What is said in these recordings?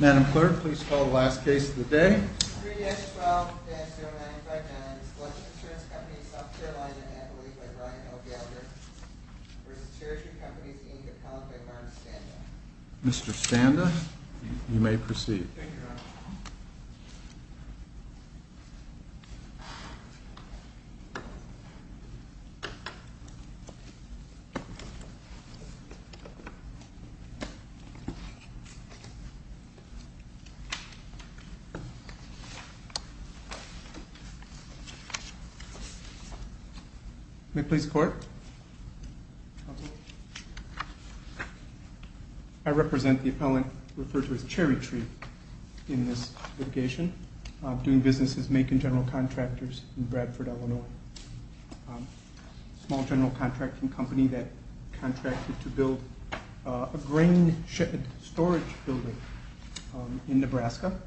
Madam Clerk, please call the last case of the day. Mr. Standa, you may proceed. I represent the appellant referred to as Cherrytree in this litigation, doing businesses making general contractors in Bradford, Illinois, a small general contracting company that contracted to build a grain shed storage building in Nebraska,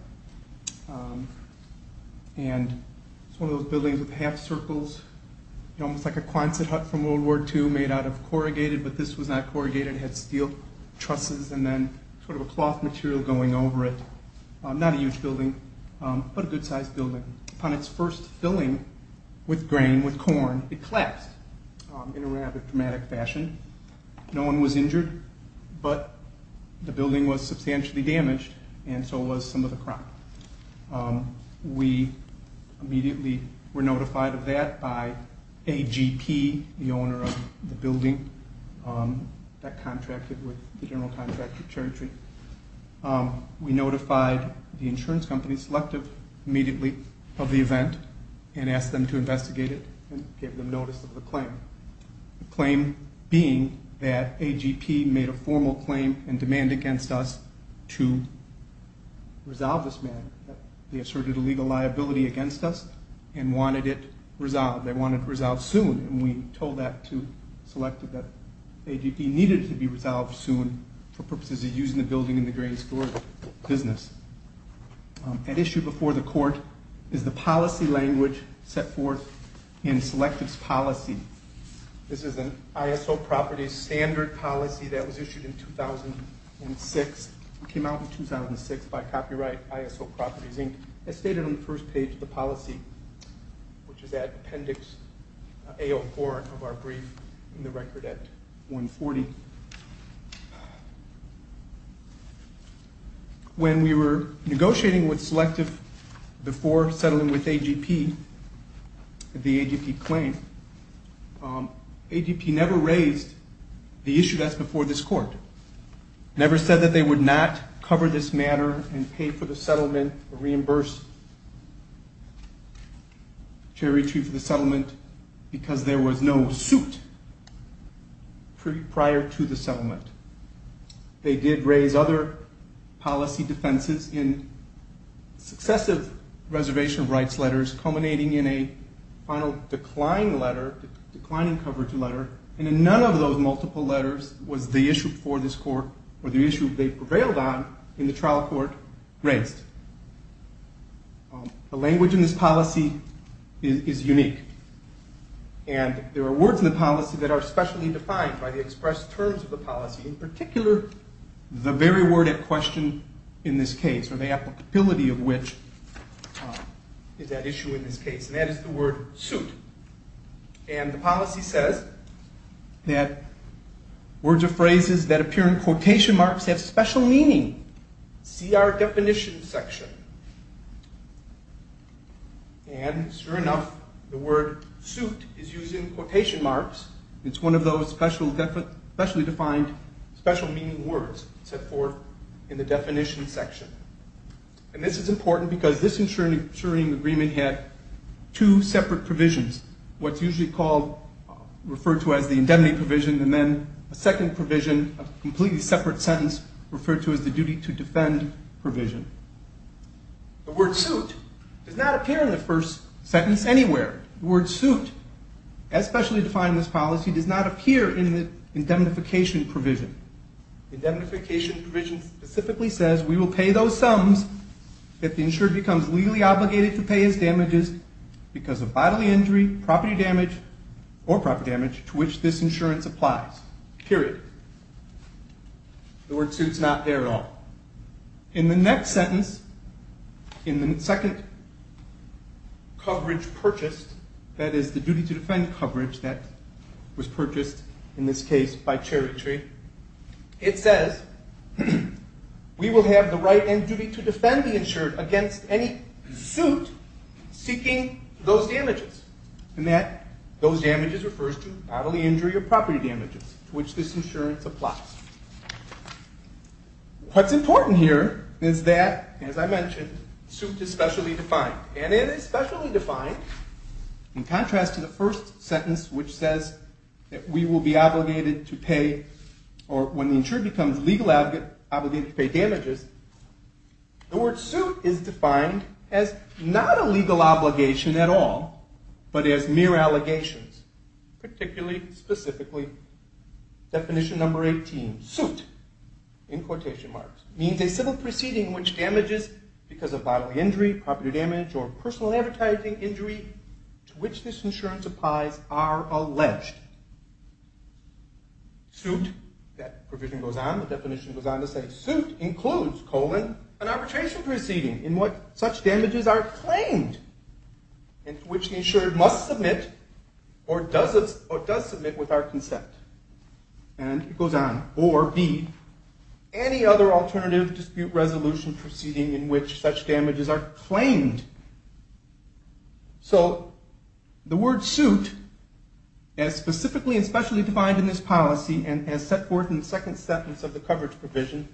and it's one of those buildings with half circles, almost like a Quonset hut from World War II, made out of corrugated, but this was not corrugated, it had steel trusses and then sort of a cloth material going over it. Not a huge building, but a good-sized building. Upon its first filling with grain, with corn, it collapsed in a rather dramatic fashion. No one was injured, but the building was substantially damaged and so was some of the crop. We immediately were notified of that by AGP, the owner of the building that contracted with the general contractor, Cherrytree. We notified the insurance company, Selective, immediately of the event and asked them to investigate it and gave them notice of the claim, the claim being that AGP made a formal claim and demand against us to resolve this matter. They asserted a legal liability against us and wanted it resolved. They wanted it resolved soon, and we told that to Selective that AGP needed it to be a building in the grain store business. At issue before the court is the policy language set forth in Selective's policy. This is an ISO Properties Standard Policy that was issued in 2006, came out in 2006 by copyright, ISO Properties Inc., as stated on the first page of the policy, which is When we were negotiating with Selective before settling with AGP, the AGP claim, AGP never raised the issue that's before this court, never said that they would not cover this matter and pay for the settlement or reimburse Cherrytree for the settlement because there They did raise other policy defenses in successive reservation of rights letters culminating in a final decline letter, declining coverage letter, and in none of those multiple letters was the issue before this court or the issue they prevailed on in the trial court raised. The language in this policy is unique, and there are words in the policy that are specially defined by the expressed terms of the policy, in particular, the very word at question in this case, or the applicability of which is at issue in this case, and that is the word suit, and the policy says that words or phrases that appear in quotation marks have special meaning. See our definition section. And sure enough, the word suit is used in quotation marks. It's one of those specially defined special meaning words set forth in the definition section. And this is important because this insuring agreement had two separate provisions, what's usually called, referred to as the indemnity provision, and then a second provision, a The word suit does not appear in the first sentence anywhere. The word suit, as specially defined in this policy, does not appear in the indemnification provision. The indemnification provision specifically says we will pay those sums if the insured becomes legally obligated to pay his damages because of bodily injury, property damage, or property damage to which this insurance applies, period. The word suit's not there at all. In the next sentence, in the second coverage purchased, that is the duty to defend coverage that was purchased in this case by Cherry Tree, it says we will have the right and duty to defend the insured against any suit seeking those damages, and that those damages refers to bodily injury or property damages to which this insurance applies. What's important here is that, as I mentioned, suit is specially defined, and it is specially defined in contrast to the first sentence which says that we will be obligated to pay or when the insured becomes legally obligated to pay damages, the word suit is defined as not a legal obligation at all, but as mere allegations, particularly, specifically, definition number 18, suit, in quotation marks, means a civil proceeding in which damages because of bodily injury, property damage, or personal advertising injury to which this insurance applies are alleged. Suit, that provision goes on, the definition goes on to say suit includes, colon, an arbitration proceeding in what such damages are claimed and to which the insured must submit or does submit with our consent, and it goes on, or B, any other alternative dispute resolution proceeding in which such damages are claimed. So the word suit, as specifically and specially defined in this policy and as set forth in the second sentence of the coverage provision,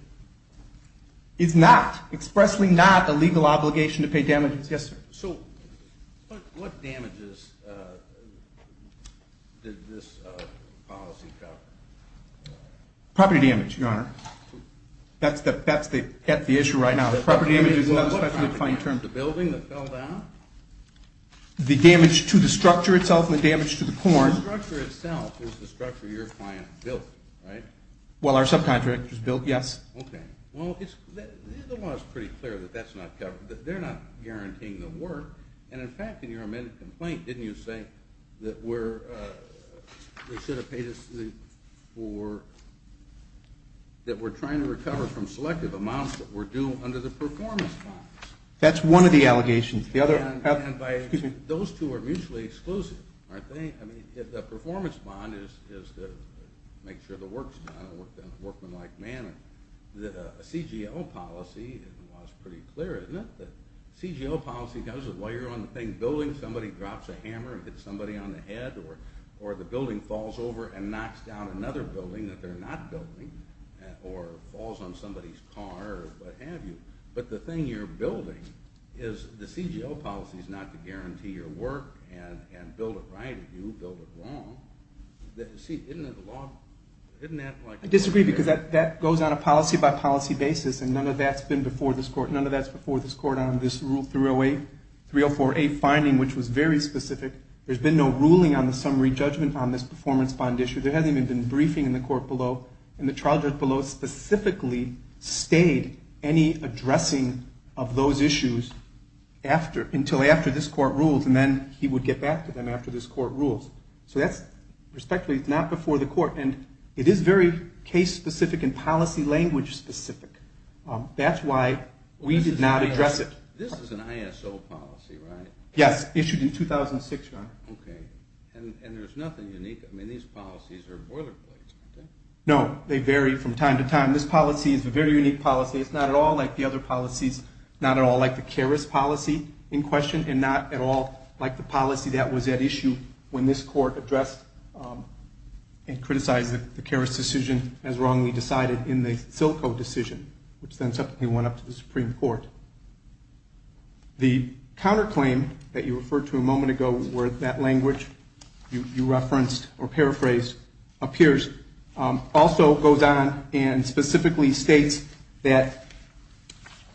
is not, expressly not, a legal obligation to pay damages. Yes, sir. So what damages did this policy cover? Property damage, your honor. That's the issue right now. Property damage is not a specially defined term. The building that fell down? The damage to the structure itself and the damage to the corn. The structure itself is the structure your client built, right? Well, our subcontractor's built, yes. Okay. Well, the law is pretty clear that that's not covered, that they're not guaranteeing the work, and in fact, in your amended complaint, didn't you say that we're, they should have paid us for, that we're trying to recover from selective amounts that were due under the performance bonds? That's one of the allegations. And by, excuse me, those two are mutually exclusive, aren't they? I mean, the performance bond is to make sure the work's done in a workmanlike manner. The CGL policy, the law's pretty clear, isn't it? The CGL policy does, while you're on the thing building, somebody drops a hammer and hits somebody on the head, or the building falls over and knocks down another building that they're not building, or falls on somebody's car, or what have you. But the thing you're building is, the CGL policy is not to guarantee your work and build it right if you build it wrong. See, isn't that the law? I disagree, because that goes on a policy-by-policy basis, and none of that's been before this court, none of that's before this court on this Rule 308, 304A finding, which was very specific. There's been no ruling on the summary judgment on this performance bond issue. There hasn't even been briefing in the court below, and the trial judge below specifically stayed any addressing of those issues after, until after this court rules, and then he would get back to them after this court rules. So that's respectfully not before the court, and it is very case-specific and policy-language specific. That's why we did not address it. This is an ISO policy, right? Yes, issued in 2006, John. Okay. And there's nothing unique? I mean, these policies are boilerplates, aren't they? No, they vary from time to time. This policy is a very unique policy. It's not at all like the other policies, not at all like the CARES policy in question, and not at all like the policy that was at issue when this court addressed and criticized the CARES decision as wrongly decided in the Silco decision, which then subsequently went up to the Supreme Court. The counterclaim that you referred to a moment ago where that language you referenced or paraphrased appears also goes on and specifically states that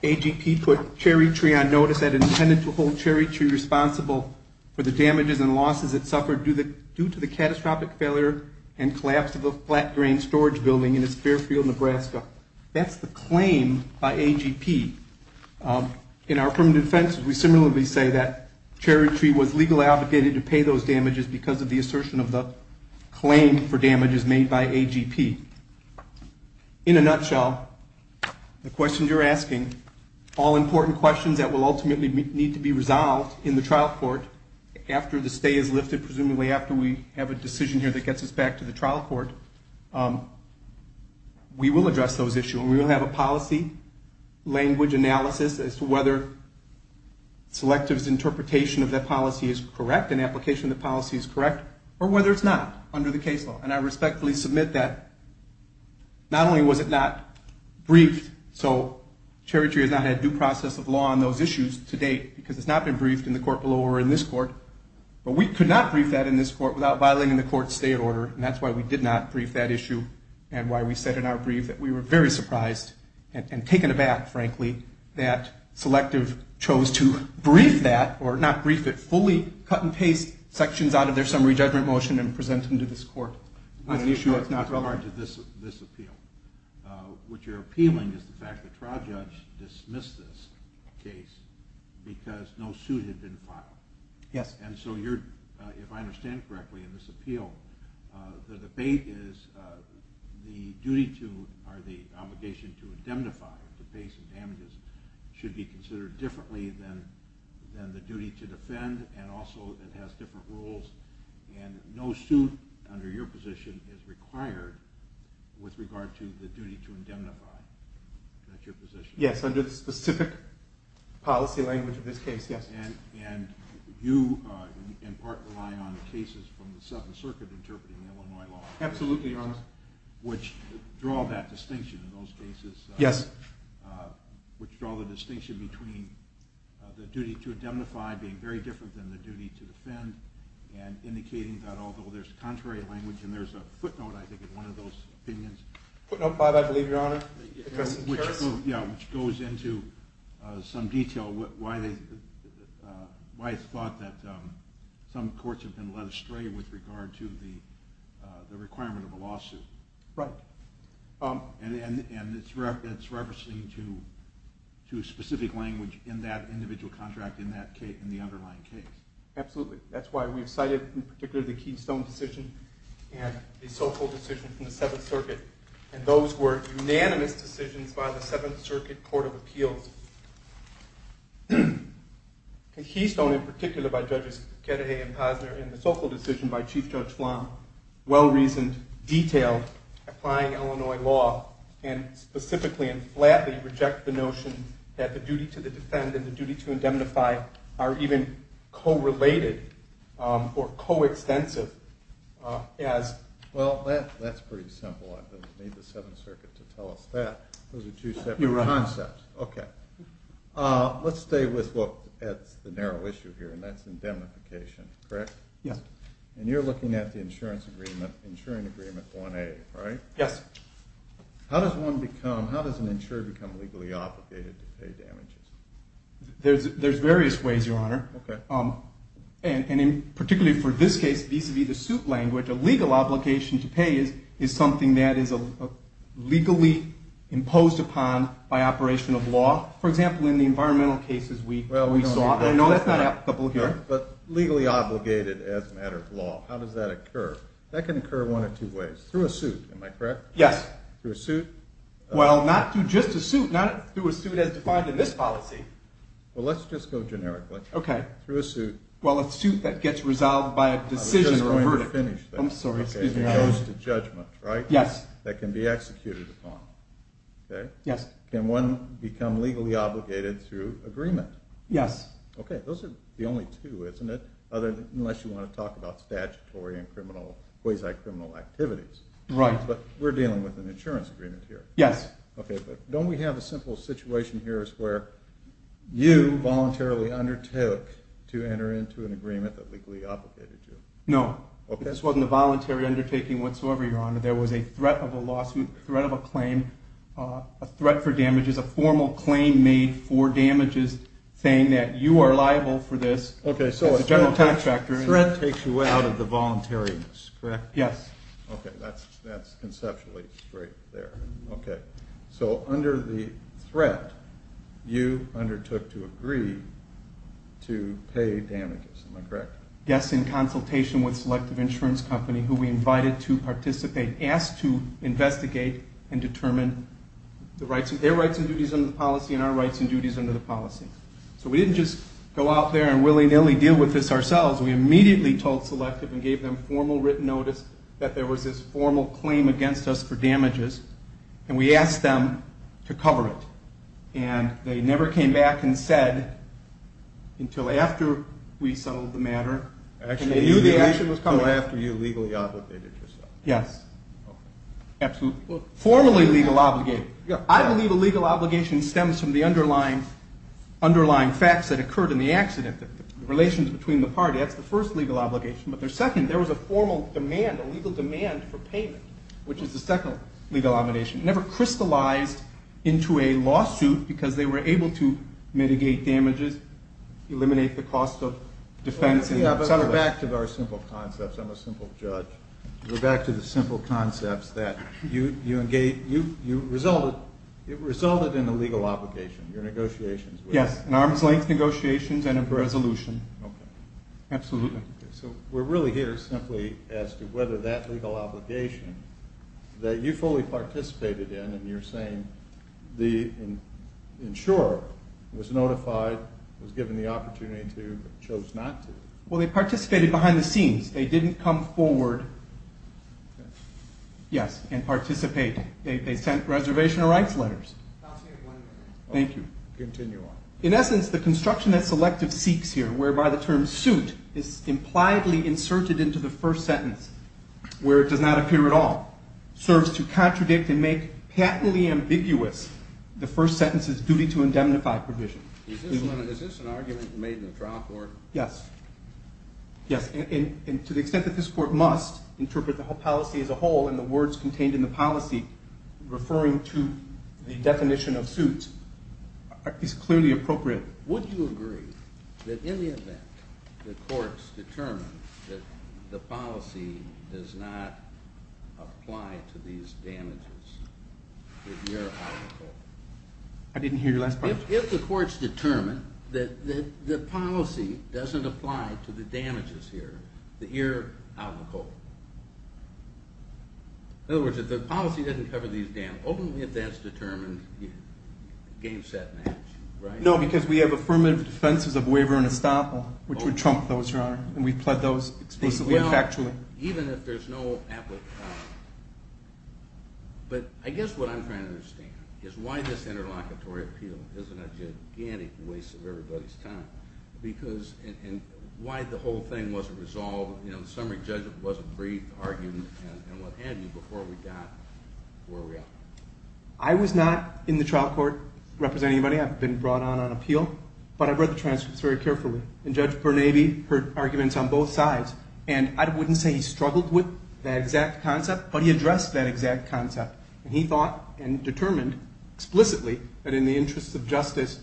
AGP put cherry tree on notice that intended to hold cherry tree responsible for the damages and losses it suffered due to the catastrophic failure and collapse of a flat-grain storage building in Sparefield, Nebraska. That's the claim by AGP. In our permanent offenses, we similarly say that cherry tree was legally obligated to pay those damages because of the assertion of the claim for damages made by AGP. In a nutshell, the questions you're asking, all important questions that will ultimately need to be resolved in the trial court after the stay is lifted, presumably after we have a decision here that gets us back to the trial court, we will address those issues. We will have a policy language analysis as to whether selectives' interpretation of that policy is correct, an application of the policy is correct, or whether it's not under the case law. And I respectfully submit that not only was it not briefed, so cherry tree has not had due process of law on those issues to date because it's not been briefed in the court below or in this court, but we could not brief that in this court without violating the court state order. And that's why we did not brief that issue and why we said in our brief that we were very surprised and taken aback, frankly, that selective chose to brief that or not brief it, fully cut and paste sections out of their summary judgment motion and present them to this court. What's the issue with this appeal? What you're appealing is the fact that trial judge dismissed this case because no suit had been filed. Yes. And so you're, if I understand correctly in this appeal, the debate is the duty to, or the obligation to indemnify, to pay some damages, should be considered differently than the duty to defend. And also it has different rules and no suit under your position is required with regard to the duty to indemnify. Is that your position? Yes. Under the specific policy language of this case, yes. And you in part rely on the cases from the Seventh Circuit interpreting Illinois law. Absolutely, Your Honor. Which draw that distinction in those cases. Yes. Which draw the distinction between the duty to indemnify being very different than the duty to defend and indicating that although there's contrary language and there's a footnote I think in one of those opinions. Footnote 5, I believe, Your Honor. Which goes into some detail why it's thought that some courts have been led astray with regard to the requirement of a lawsuit. Right. And it's referencing to specific language in that individual contract in that case, in the underlying case. Absolutely. That's why we've cited in particular the Keystone decision and the Sokol decision from the Seventh Circuit. And those were unanimous decisions by the Seventh Circuit Court of Appeals. The Keystone in particular by Judges Kennedy and Posner and the Sokol decision by Chief and specifically and flatly reject the notion that the duty to defend and the duty to indemnify are even co-related or co-extensive as... Well, that's pretty simple. I don't need the Seventh Circuit to tell us that. Those are two separate concepts. Your Honor. Okay. Let's stay with the narrow issue here and that's indemnification. Correct? Yes. And you're looking at the insurance agreement, the insuring agreement 1A, right? Yes. How does one become... How does an insurer become legally obligated to pay damages? There's various ways, Your Honor. Okay. And particularly for this case, vis-à-vis the suit language, a legal obligation to pay is something that is legally imposed upon by operation of law. For example, in the environmental cases we saw. I know it's not applicable here. But legally obligated as a matter of law, how does that occur? That can occur one of two ways. Through a suit, am I correct? Yes. Through a suit? Well, not through just a suit. Not through a suit as defined in this policy. Well, let's just go generically. Okay. Through a suit. Well, a suit that gets resolved by a decision or a verdict. I was just going to finish there. I'm sorry. Excuse me. It goes to judgment, right? Yes. That can be executed upon. Okay? Yes. Can one become legally obligated through agreement? Yes. Okay. Those are the only two, isn't it? Unless you want to talk about statutory and quasi-criminal activities. Right. But we're dealing with an insurance agreement here. Yes. Okay. But don't we have a simple situation here as where you voluntarily undertook to enter into an agreement that legally obligated you? No. Okay. This wasn't a voluntary undertaking whatsoever, Your Honor. There was a threat of a lawsuit, threat of a claim, a threat for damages, a formal claim made for damages saying that you are liable for this. Okay, so a threat takes you out of the voluntariness, correct? Yes. Okay. That's conceptually straight there. Okay. So under the threat, you undertook to agree to pay damages. Am I correct? Yes, in consultation with Selective Insurance Company, who we invited to participate, asked to investigate and determine their rights and duties under the policy and our rights and duties under the policy. So we didn't just go out there and willy-nilly deal with this ourselves. We immediately told Selective and gave them formal written notice that there was this formal claim against us for damages, and we asked them to cover it. And they never came back and said until after we settled the matter, and they knew the action was coming. Until after you legally obligated yourself. Yes. Okay. Absolutely. Well, formally legal obligated. I believe a legal obligation stems from the underlying facts that occurred in the accident, the relations between the parties. That's the first legal obligation. But the second, there was a formal demand, a legal demand for payment, which is the second legal obligation. It never crystallized into a lawsuit because they were able to mitigate damages, eliminate the cost of defense. Yeah, but we're back to very simple concepts. I'm a simple judge. We're back to the simple concepts that you resulted in a legal obligation, your negotiations. Yes, an arm's-length negotiations and a resolution. Okay. Absolutely. So we're really here simply as to whether that legal obligation that you fully participated in, and you're saying the insurer was notified, was given the opportunity to, but chose not to. Well, they participated behind the scenes. They didn't come forward and participate. They sent reservation of rights letters. I'll stay one minute. Thank you. Continue on. In essence, the construction that Selective seeks here, whereby the term suit is impliedly inserted into the first sentence where it does not appear at all, serves to contradict and make patently ambiguous the first sentence's duty to indemnify provision. Is this an argument made in the trial court? Yes. Yes, and to the extent that this court must interpret the policy as a whole and the words contained in the policy referring to the definition of suit is clearly appropriate. Would you agree that in the event the courts determine that the policy does not apply to these damages, that you're out of the court? I didn't hear your last part. If the courts determine that the policy doesn't apply to the damages here, that you're out of the court. In other words, if the policy doesn't cover these damages, only if that's determined gainset match, right? No, because we have affirmative defenses of waiver and estoppel, which would trump those, Your Honor, and we've pled those explicitly and factually. Even if there's no applicability. But I guess what I'm trying to understand is why this interlocutory appeal isn't a gigantic waste of everybody's time and why the whole thing wasn't resolved. In summary, Judge, it was a brief argument and what had been before we got where we are. I was not in the trial court representing anybody. I've been brought on on appeal, but I've read the transcripts very carefully, and Judge Bernabe heard arguments on both sides, and I wouldn't say he struggled with that exact concept, but he addressed that exact concept. He thought and determined explicitly that in the interest of justice,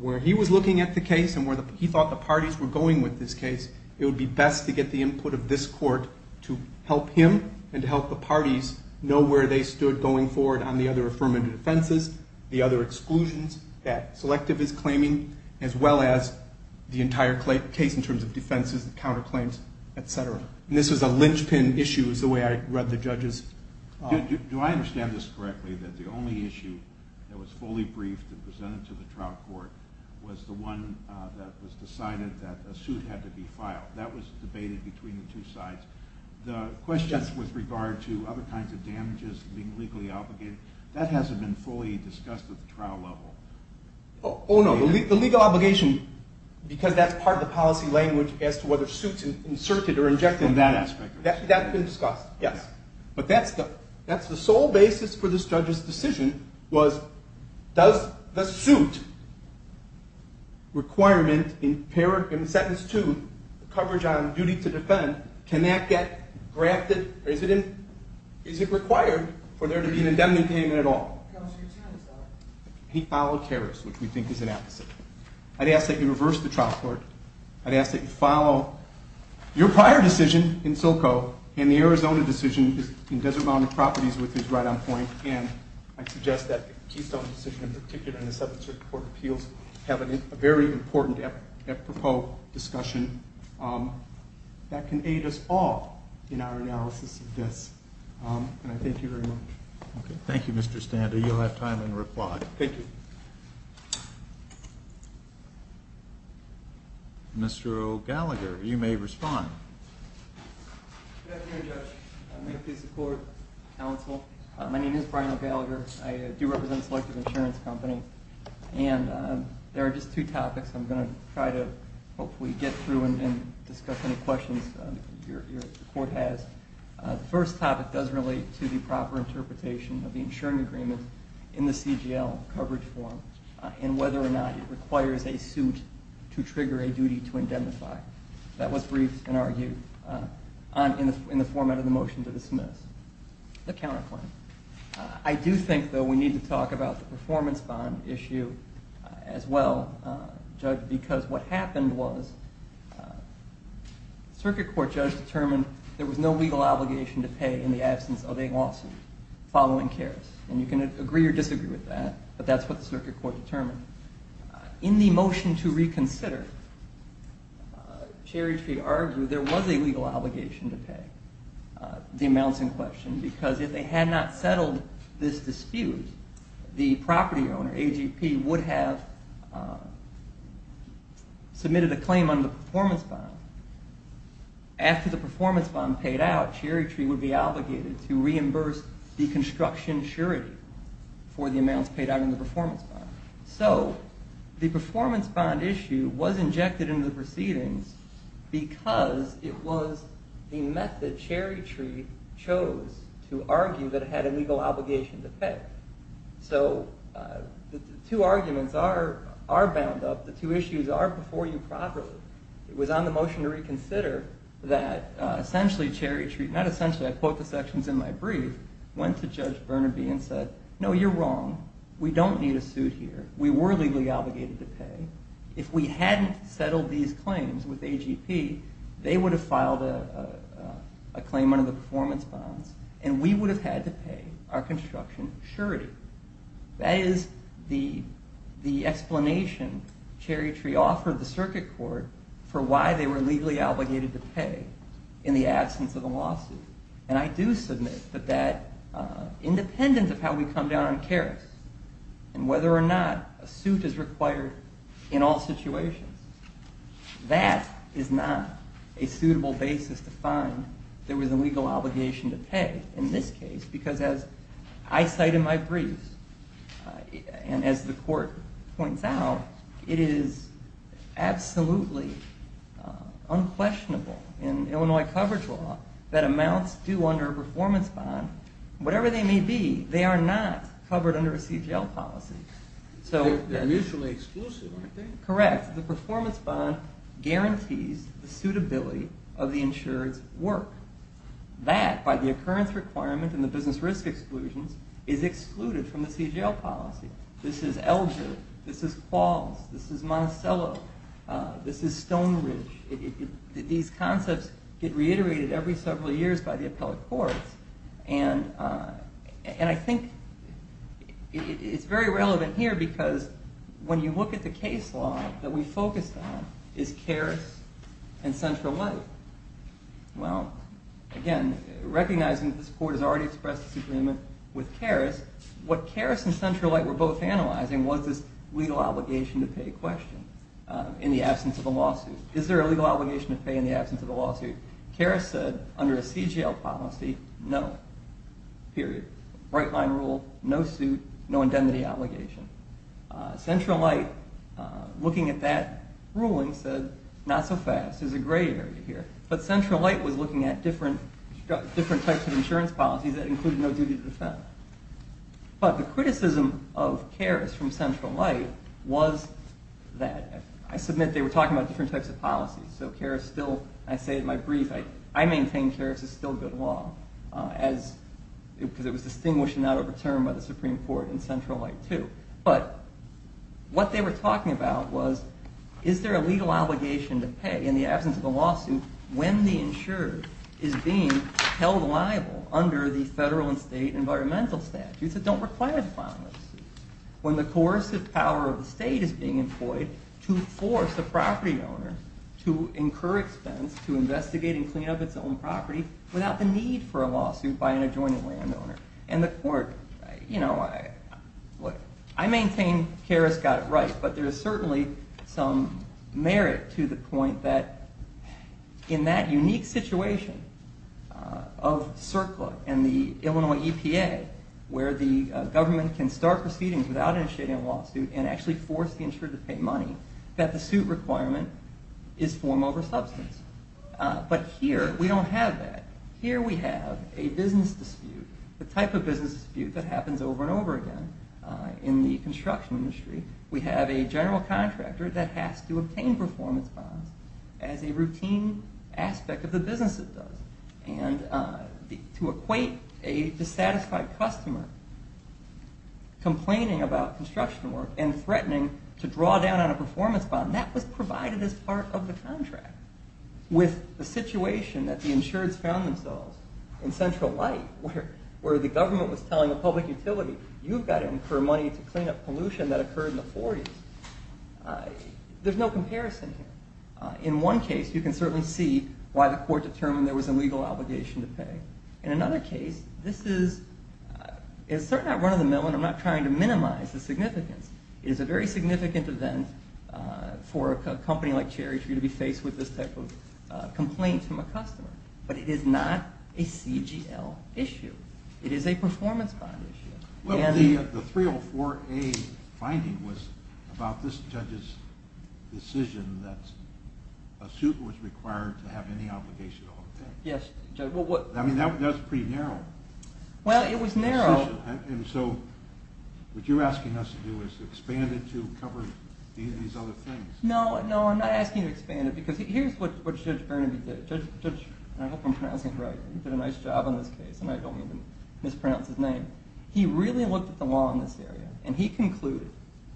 where he was looking at the case and where he thought the parties were going with this case, it would be best to get the input of this court to help him and to help the parties know where they stood going forward on the other affirmative defenses, the other exclusions that selective is claiming, as well as the entire case in terms of defenses and counterclaims, et cetera. And this was a linchpin issue is the way I read the judges. Do I understand this correctly, that the only issue that was fully briefed and presented to the trial court was the one that was decided that a suit had to be filed? That was debated between the two sides. The questions with regard to other kinds of damages being legally obligated, that hasn't been fully discussed at the trial level. Oh, no, the legal obligation, because that's part of the policy language as to whether suits are inserted or injected on that aspect. That's been discussed, yes. But that's the sole basis for this judge's decision was, does the suit requirement in sentence two, coverage on duty to defend, can that get granted or is it required for there to be an indemnity payment at all? He followed Karras, which we think is an apposite. I'd ask that you reverse the trial court. I'd ask that you follow your prior decision in Silco and the Arizona decision in Desert Mountain Properties with his right on point. And I suggest that the Keystone decision in particular and the 7th Circuit Court of Appeals have a very important apropos discussion that can aid us all in our analysis of this. And I thank you very much. Okay, thank you, Mr. Stander. You'll have time in reply. Thank you. Mr. O'Gallagher, you may respond. Good afternoon, Judge. May it please the court, counsel. My name is Brian O'Gallagher. I do represent Selective Insurance Company. And there are just two topics I'm going to try to hopefully get through and discuss any questions your court has. The first topic does relate to the proper interpretation of the insuring agreement in the CGL coverage form and whether or not it requires a suit to trigger a duty to indemnify. That was briefed and argued in the format of the motion to dismiss the counterclaim. I do think, though, we need to talk about the performance bond issue as well, Judge, because what happened was the circuit court judge determined there was no legal obligation to pay in the absence of a lawsuit following Karras. And you can agree or disagree with that, but that's what the circuit court determined. In the motion to reconsider, Cherry Tree argued there was a legal obligation to pay the amounts in question because if they had not settled this dispute, the property owner, AGP, would have submitted a claim on the performance bond. After the performance bond paid out, Cherry Tree would be obligated to reimburse the construction surety for the amounts paid out in the performance bond. So the performance bond issue was injected into the proceedings because it was the method Cherry Tree chose to argue that it had a legal obligation to pay. So the two arguments are bound up. The two issues are before you properly. It was on the motion to reconsider that essentially Cherry Tree, not essentially, I quote the sections in my brief, went to Judge Burnaby and said, no, you're wrong. We don't need a suit here. We were legally obligated to pay. If we hadn't settled these claims with AGP, they would have filed a claim under the performance bonds and we would have had to pay our construction surety. That is the explanation Cherry Tree offered the circuit court for why they were legally obligated to pay in the absence of the lawsuit. And I do submit that that, independent of how we come down on Karras and whether or not a suit is required in all situations, that is not a suitable basis to find there was a legal obligation to pay in this case because as I cite in my brief and as the court points out, it is absolutely unquestionable in Illinois coverage law that amounts due under a performance bond, whatever they may be, they are not covered under a CGL policy. They're mutually exclusive, aren't they? Correct. The performance bond guarantees the suitability of the insured's work. That, by the occurrence requirement and the business risk exclusions, is excluded from the CGL policy. This is Elgin. This is Falls. This is Monticello. This is Stone Ridge. These concepts get reiterated every several years by the appellate courts and I think it's very relevant here because when you look at the case law that we focused on is Karras and Central Light. Well, again, recognizing that this court has already expressed its agreement with Karras, what Karras and Central Light were both analyzing was this legal obligation to pay question in the absence of the lawsuit. Is there a legal obligation to pay in the absence of the lawsuit? Karras said under a CGL policy, no. Period. Right line rule, no suit, no indemnity obligation. Central Light, looking at that ruling, said not so fast. There's a gray area here. But Central Light was looking at different types of insurance policies that included no duty to defend. But the criticism of Karras from Central Light was that. I submit they were talking about different types of policies. So Karras still, I say in my brief, I maintain Karras is still good law because it was distinguished and not overturned by the Supreme Court in Central Light, too. But what they were talking about was is there a legal obligation to pay in the absence of a lawsuit when the insurer is being held liable under the federal and state environmental statutes that don't require the filing of a suit, when the coercive power of the state is being employed to force the property owner to incur expense to investigate and clean up its own property without the need for a lawsuit by an adjoining landowner. And the court, you know, I maintain Karras got it right. But there is certainly some merit to the point that in that unique situation of CERCLA and the Illinois EPA where the government can start proceedings without initiating a lawsuit and actually force the insurer to pay money, that the suit requirement is form over substance. But here we don't have that. Here we have a business dispute, the type of business dispute that happens over and over again. In the construction industry, we have a general contractor that has to obtain performance bonds to equate a dissatisfied customer complaining about construction work and threatening to draw down on a performance bond. That was provided as part of the contract. With the situation that the insureds found themselves in Central Light where the government was telling a public utility, you've got to incur money to clean up pollution that occurred in the 40s. There's no comparison here. In one case, you can certainly see why the court determined there was a legal obligation to pay. In another case, this is certainly not run of the mill, and I'm not trying to minimize the significance. It is a very significant event for a company like Cherry Tree to be faced with this type of complaint from a customer. But it is not a CGL issue. It is a performance bond issue. Well, the 304A finding was about this judge's decision that a suit was required to have any obligation at all. Yes. I mean, that's pretty narrow. Well, it was narrow. And so what you're asking us to do is expand it to cover these other things. No, I'm not asking you to expand it because here's what Judge Burnaby did. I hope I'm pronouncing it right. He did a nice job on this case, and I don't mean to mispronounce his name. He really looked at the law in this area, and he concluded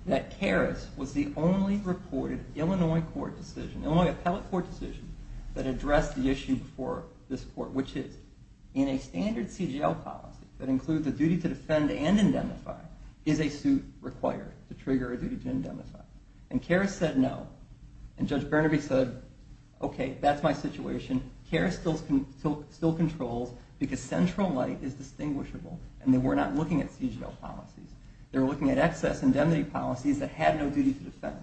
that Karras was the only reported Illinois court decision, Illinois appellate court decision, that addressed the issue for this court, which is in a standard CGL policy that includes a duty to defend and indemnify, is a suit required to trigger a duty to indemnify? And Karras said no. And Judge Burnaby said, OK, that's my situation. Karras still controls because central light is distinguishable, and they were not looking at CGL policies. They were looking at excess indemnity policies that had no duty to defend.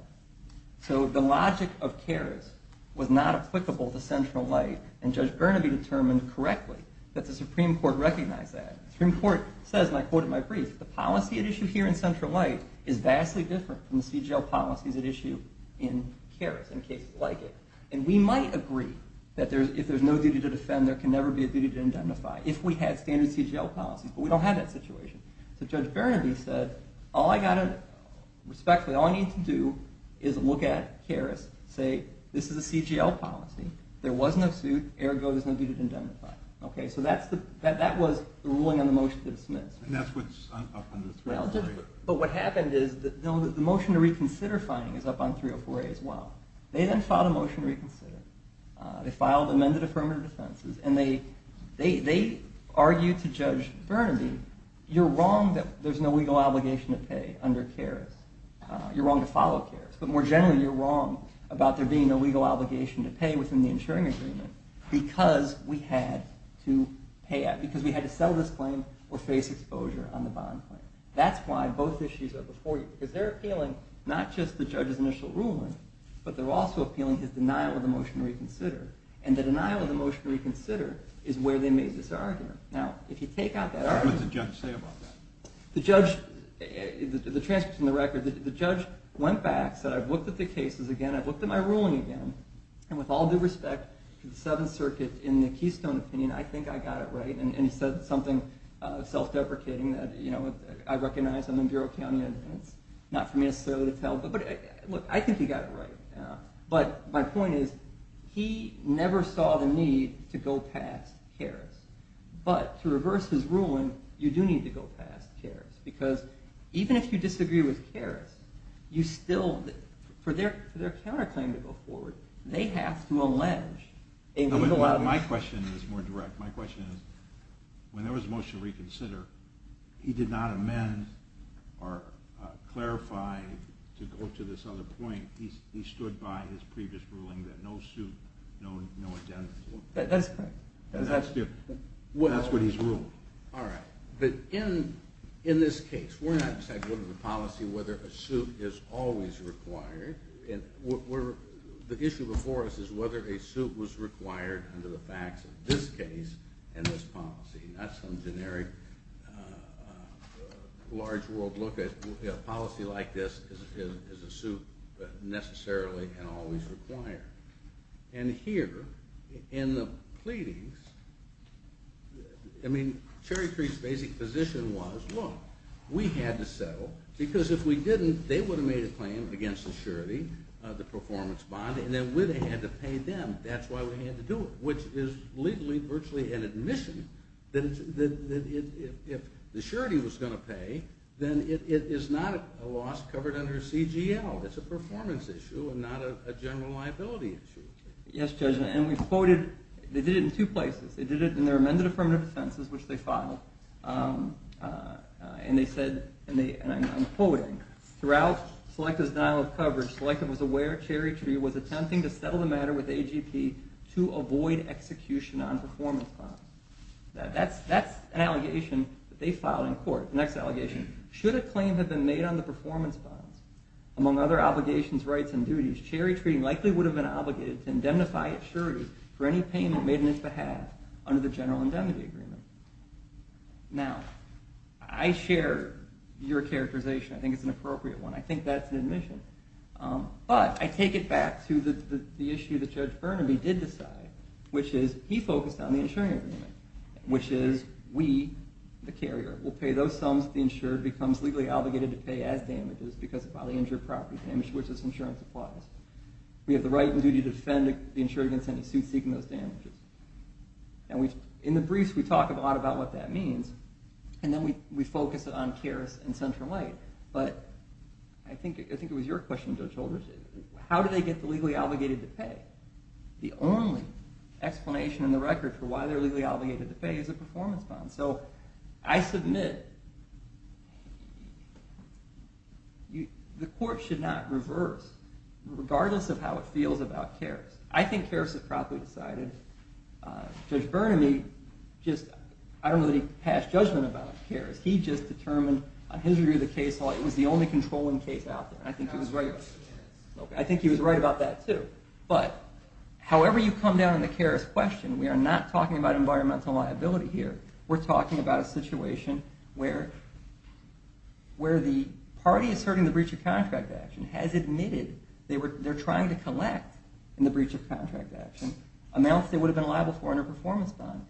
So the logic of Karras was not applicable to central light, and Judge Burnaby determined correctly that the Supreme Court recognized that. The Supreme Court says, and I quote in my brief, the policy at issue here in central light is vastly different from the CGL policies at issue in Karras in cases like it. And we might agree that if there's no duty to defend, there can never be a duty to indemnify, if we had standard CGL policies, but we don't have that situation. So Judge Burnaby said, respectfully, all I need to do is look at Karras, say this is a CGL policy. There was no suit, ergo there's no duty to indemnify. So that was the ruling on the motion to dismiss. And that's what's up under 304A. But what happened is the motion to reconsider finding is up on 304A as well. They then filed a motion to reconsider. They filed amended affirmative defenses, and they argued to Judge Burnaby, you're wrong that there's no legal obligation to pay under Karras. You're wrong to follow Karras. But more generally, you're wrong about there being a legal obligation to pay within the insuring agreement because we had to pay it, because we had to settle this claim or face exposure on the bond claim. That's why both issues are before you, because they're appealing not just the judge's initial ruling, but they're also appealing his denial of the motion to reconsider. And the denial of the motion to reconsider is where they made this argument. What did the judge say about that? The judge went back and said, I've looked at the cases again, I've looked at my ruling again, and with all due respect to the Seventh Circuit in the Keystone opinion, I think I got it right. And he said something self-deprecating that I recognize. I'm in Bureau County, and it's not for me necessarily to tell. But look, I think he got it right. But my point is he never saw the need to go past Karras. But to reverse his ruling, you do need to go past Karras, because even if you disagree with Karras, you still, for their counterclaim to go forward, they have to allege a legal obligation. My question is more direct. My question is, when there was a motion to reconsider, he did not amend or clarify to go to this other point. He stood by his previous ruling that no suit, no identity. That's correct. That's what he's ruled. All right. But in this case, we're not deciding under the policy whether a suit is always required. The issue before us is whether a suit was required under the facts of this case and this policy, not some generic large-world look. A policy like this is a suit necessarily and always required. And here, in the pleadings, I mean, Cherry Tree's basic position was, look, we had to settle, because if we didn't, they would have made a claim against the surety, the performance bond, and then we would have had to pay them. That's why we had to do it, which is legally virtually an admission that if the surety was going to pay, then it is not a loss covered under CGL. It's a performance issue and not a general liability issue. Yes, Judge, and we've quoted they did it in two places. They did it in their amended affirmative sentences, which they filed. And they said, and I'm quoting, throughout Selective's denial of coverage, Selective was aware Cherry Tree was attempting to settle the matter with AGP to avoid execution on performance bonds. That's an allegation that they filed in court. The next allegation. Should a claim have been made on the performance bonds, among other obligations, rights, and duties, Cherry Tree likely would have been obligated to indemnify its surety for any payment made in its behalf under the general indemnity agreement. Now, I share your characterization. I think it's an appropriate one. I think that's an admission. But I take it back to the issue that Judge Burnaby did decide, which is he focused on the insuring agreement, which is we, the carrier, will pay those sums the insured becomes legally obligated to pay as damages because of bodily injury or property damage to which this insurance applies. We have the right and duty to defend the insured against any suit seeking those damages. In the briefs, we talk a lot about what that means, and then we focus on CARES and Central Light. But I think it was your question, Judge Holdren. How do they get the legally obligated to pay? The only explanation in the record for why they're legally obligated to pay is a performance bond. So I submit the court should not reverse, regardless of how it feels about CARES. I think CARES has properly decided. Judge Burnaby just, I don't know that he passed judgment about CARES. He just determined on his review of the case law it was the only controlling case out there. I think he was right about that, too. But however you come down on the CARES question, we are not talking about environmental liability here. We're talking about a situation where the party asserting the breach of contract action has admitted they're trying to collect, in the breach of contract action, amounts they would have been liable for under a performance bond.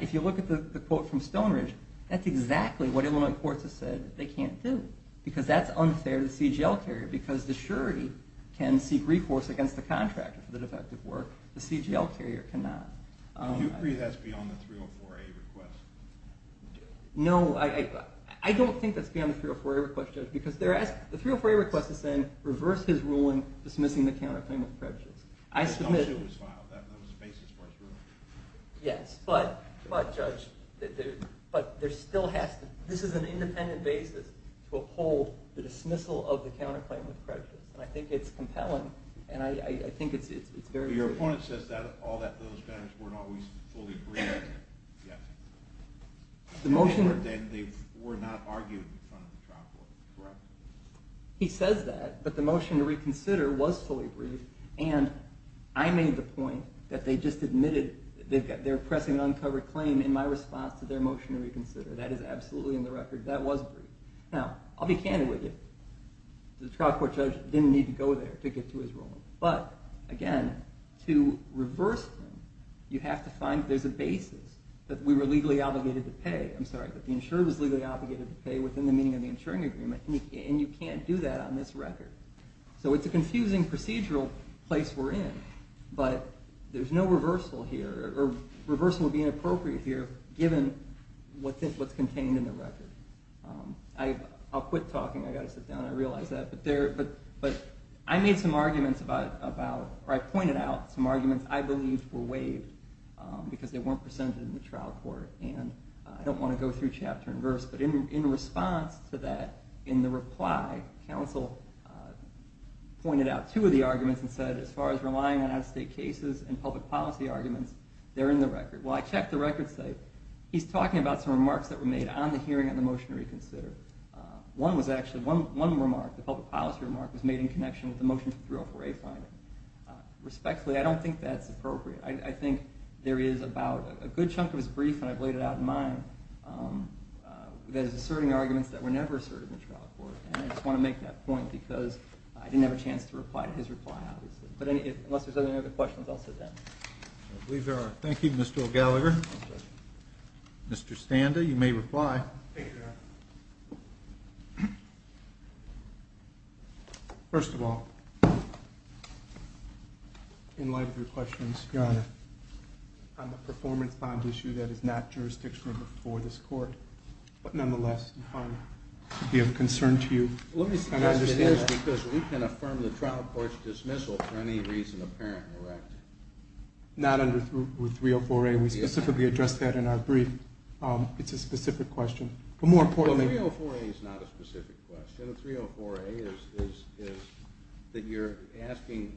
If you look at the quote from Stonebridge, that's exactly what Illinois courts have said they can't do because that's unfair to the CGL carrier. Because the surety can seek recourse against the contractor for the defective work. The CGL carrier cannot. Do you agree that's beyond the 304A request? No, I don't think that's beyond the 304A request, Judge, because the 304A request is saying reverse his ruling dismissing the counterclaim with prejudice. That was a basis for his ruling. Yes, but, Judge, this is an independent basis to uphold the dismissal of the counterclaim with prejudice. And I think it's compelling, and I think it's very significant. So your opponent says that all those matters weren't always fully briefed. They were not argued in front of the trial court, correct? He says that, but the motion to reconsider was fully briefed, and I made the point that they just admitted they're pressing an uncovered claim in my response to their motion to reconsider. That is absolutely in the record. That was briefed. Now, I'll be candid with you. The trial court judge didn't need to go there to get to his ruling. But, again, to reverse them, you have to find there's a basis that we were legally obligated to pay. I'm sorry, that the insurer was legally obligated to pay within the meaning of the insuring agreement, and you can't do that on this record. So it's a confusing procedural place we're in, but there's no reversal here, or reversal would be inappropriate here given what's contained in the record. I'll quit talking. I've got to sit down. I realize that. I made some arguments about, or I pointed out some arguments I believed were waived because they weren't presented in the trial court, and I don't want to go through chapter and verse. But in response to that, in the reply, counsel pointed out two of the arguments and said, as far as relying on out-of-state cases and public policy arguments, they're in the record. Well, I checked the record site. He's talking about some remarks that were made on the hearing on the motion to reconsider. One was actually, one remark, the public policy remark, was made in connection with the motion for 304A finding. Respectfully, I don't think that's appropriate. I think there is about a good chunk of his brief, and I've laid it out in mine, that is asserting arguments that were never asserted in the trial court, and I just want to make that point because I didn't have a chance to reply to his reply, obviously. But unless there's any other questions, I'll sit down. I believe there are. Thank you, Mr. O'Gallagher. Mr. Standa, you may reply. Thank you, Your Honor. First of all, in light of your questions, Your Honor, on the performance bond issue that is not jurisdictional before this court, but nonetheless, we have concern to you. Let me suggest it is because we can affirm the trial court's dismissal for any reason apparent, correct? Not under 304A. We specifically addressed that in our brief. It's a specific question. A 304A is not a specific question. A 304A is that you're asking,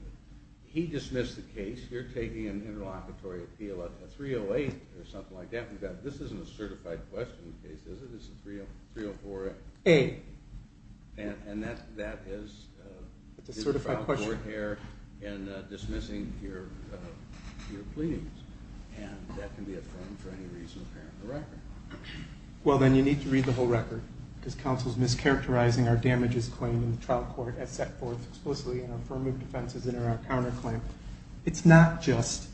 he dismissed the case, you're taking an interlocutory appeal, a 308 or something like that. This isn't a certified question case, is it? It's a 304A. And that is a trial court error in dismissing your plea. And that can be affirmed for any reason apparent in the record. Well, then you need to read the whole record because counsel is mischaracterizing our damages claim in the trial court as set forth explicitly in our affirmative defenses and in our counterclaim. It's not just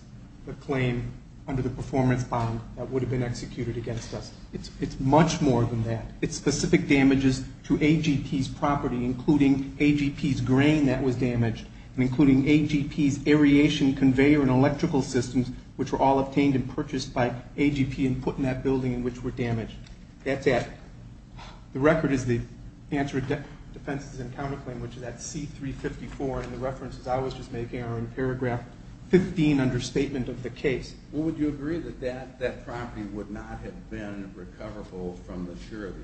the claim under the performance bond that would have been executed against us. It's much more than that. It's specific damages to AGP's property, including AGP's grain that was damaged and including AGP's aeration conveyor and electrical systems, which were all obtained and purchased by AGP and put in that building in which were damaged. That's it. The record is the answer to defenses and counterclaim, which is at C354, and the references I was just making are in paragraph 15 under statement of the case. Well, would you agree that that property would not have been recoverable from the surety?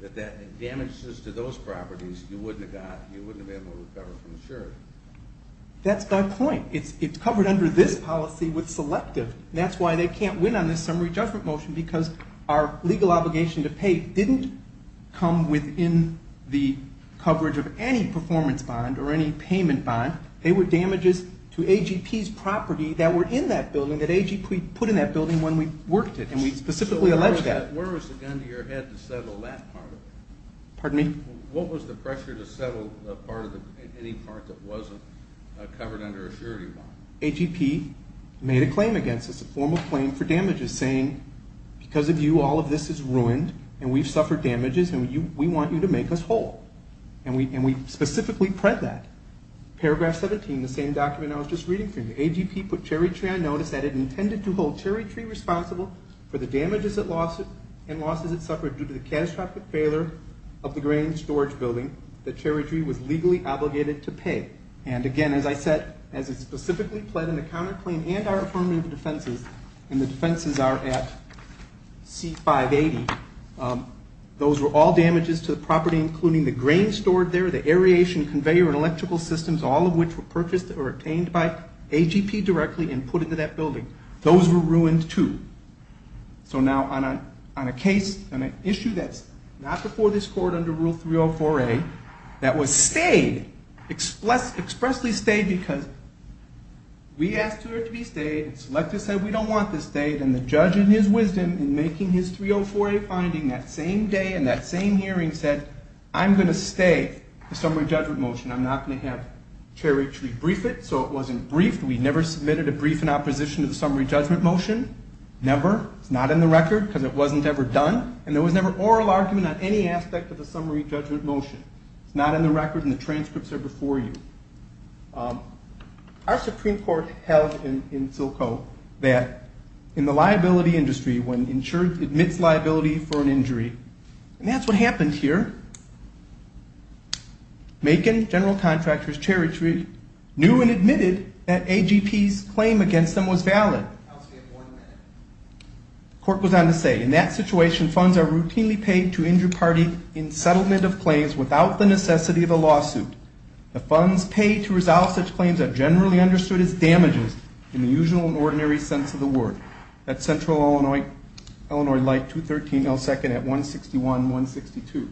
That damages to those properties, you wouldn't have been able to recover from the surety? That's my point. It's covered under this policy with selective. That's why they can't win on this summary judgment motion because our legal obligation to pay didn't come within the coverage of any performance bond or any payment bond. They were damages to AGP's property that were in that building that AGP put in that building when we worked it, and we specifically alleged that. Where was the gun to your head to settle that part of it? Pardon me? What was the pressure to settle any part that wasn't covered under a surety bond? AGP made a claim against us, a formal claim for damages, saying because of you all of this is ruined and we've suffered damages and we want you to make us whole, and we specifically prepped that. Paragraph 17, the same document I was just reading for you, AGP put cherry tree on notice that it intended to hold cherry tree responsible for the damages it lost and losses it suffered due to the catastrophic failure of the grain storage building that cherry tree was legally obligated to pay. And again, as I said, as it specifically pled in the counterclaim and our affirmative defenses, and the defenses are at C580, those were all damages to the property including the grain stored there, the aeration conveyor and electrical systems, all of which were purchased or obtained by AGP directly and put into that building. Those were ruined too. So now on a case, on an issue that's not before this court under Rule 304A that was stayed, expressly stayed because we asked for it to be stayed, and Selecta said we don't want this stayed, and the judge in his wisdom in making his 304A finding that same day and that same hearing said, I'm going to stay the summary judgment motion. I'm not going to have cherry tree brief it, so it wasn't briefed. We never submitted a brief in opposition to the summary judgment motion, never. It's not in the record because it wasn't ever done, and there was never oral argument on any aspect of the summary judgment motion. It's not in the record and the transcripts are before you. Our Supreme Court held in Silco that in the liability industry when an insured admits liability for an injury, and that's what happened here, Macon, general contractor's cherry tree, knew and admitted that AGP's claim against them was valid. The court goes on to say, in that situation, funds are routinely paid to injured parties in settlement of claims without the necessity of a lawsuit. The funds paid to resolve such claims are generally understood as damages in the usual and ordinary sense of the word. That's Central Illinois Light, 213 L. 2nd at 161, 162.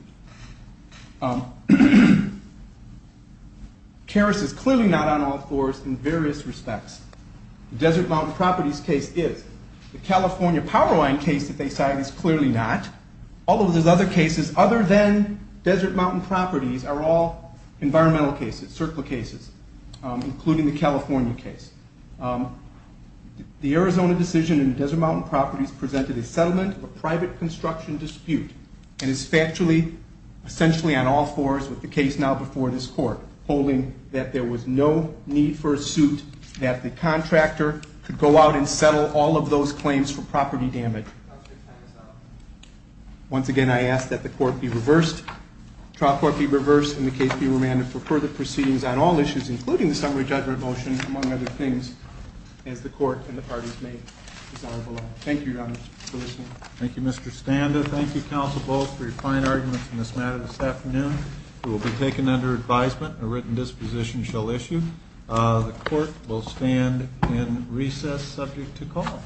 Keras is clearly not on all fours in various respects. The Desert Mountain Properties case is. The California Powerline case that they cite is clearly not, although there's other cases other than Desert Mountain Properties are all environmental cases, circle cases, including the California case. The Arizona decision in the Desert Mountain Properties presented a settlement of a private construction dispute and is factually essentially on all fours with the case now before this court, holding that there was no need for a suit, that the contractor could go out and settle all of those claims for property damage. Once again, I ask that the court be reversed, trial court be reversed, and the case be remanded for further proceedings on all issues, including the summary judgment motion, among other things, as the court and the parties may decide below. Thank you, Your Honor, for listening. Thank you, Mr. Standa. Thank you, Counsel Bowles, for your fine arguments in this matter this afternoon. You will be taken under advisement. A written disposition shall issue. The court will stand in recess subject to call.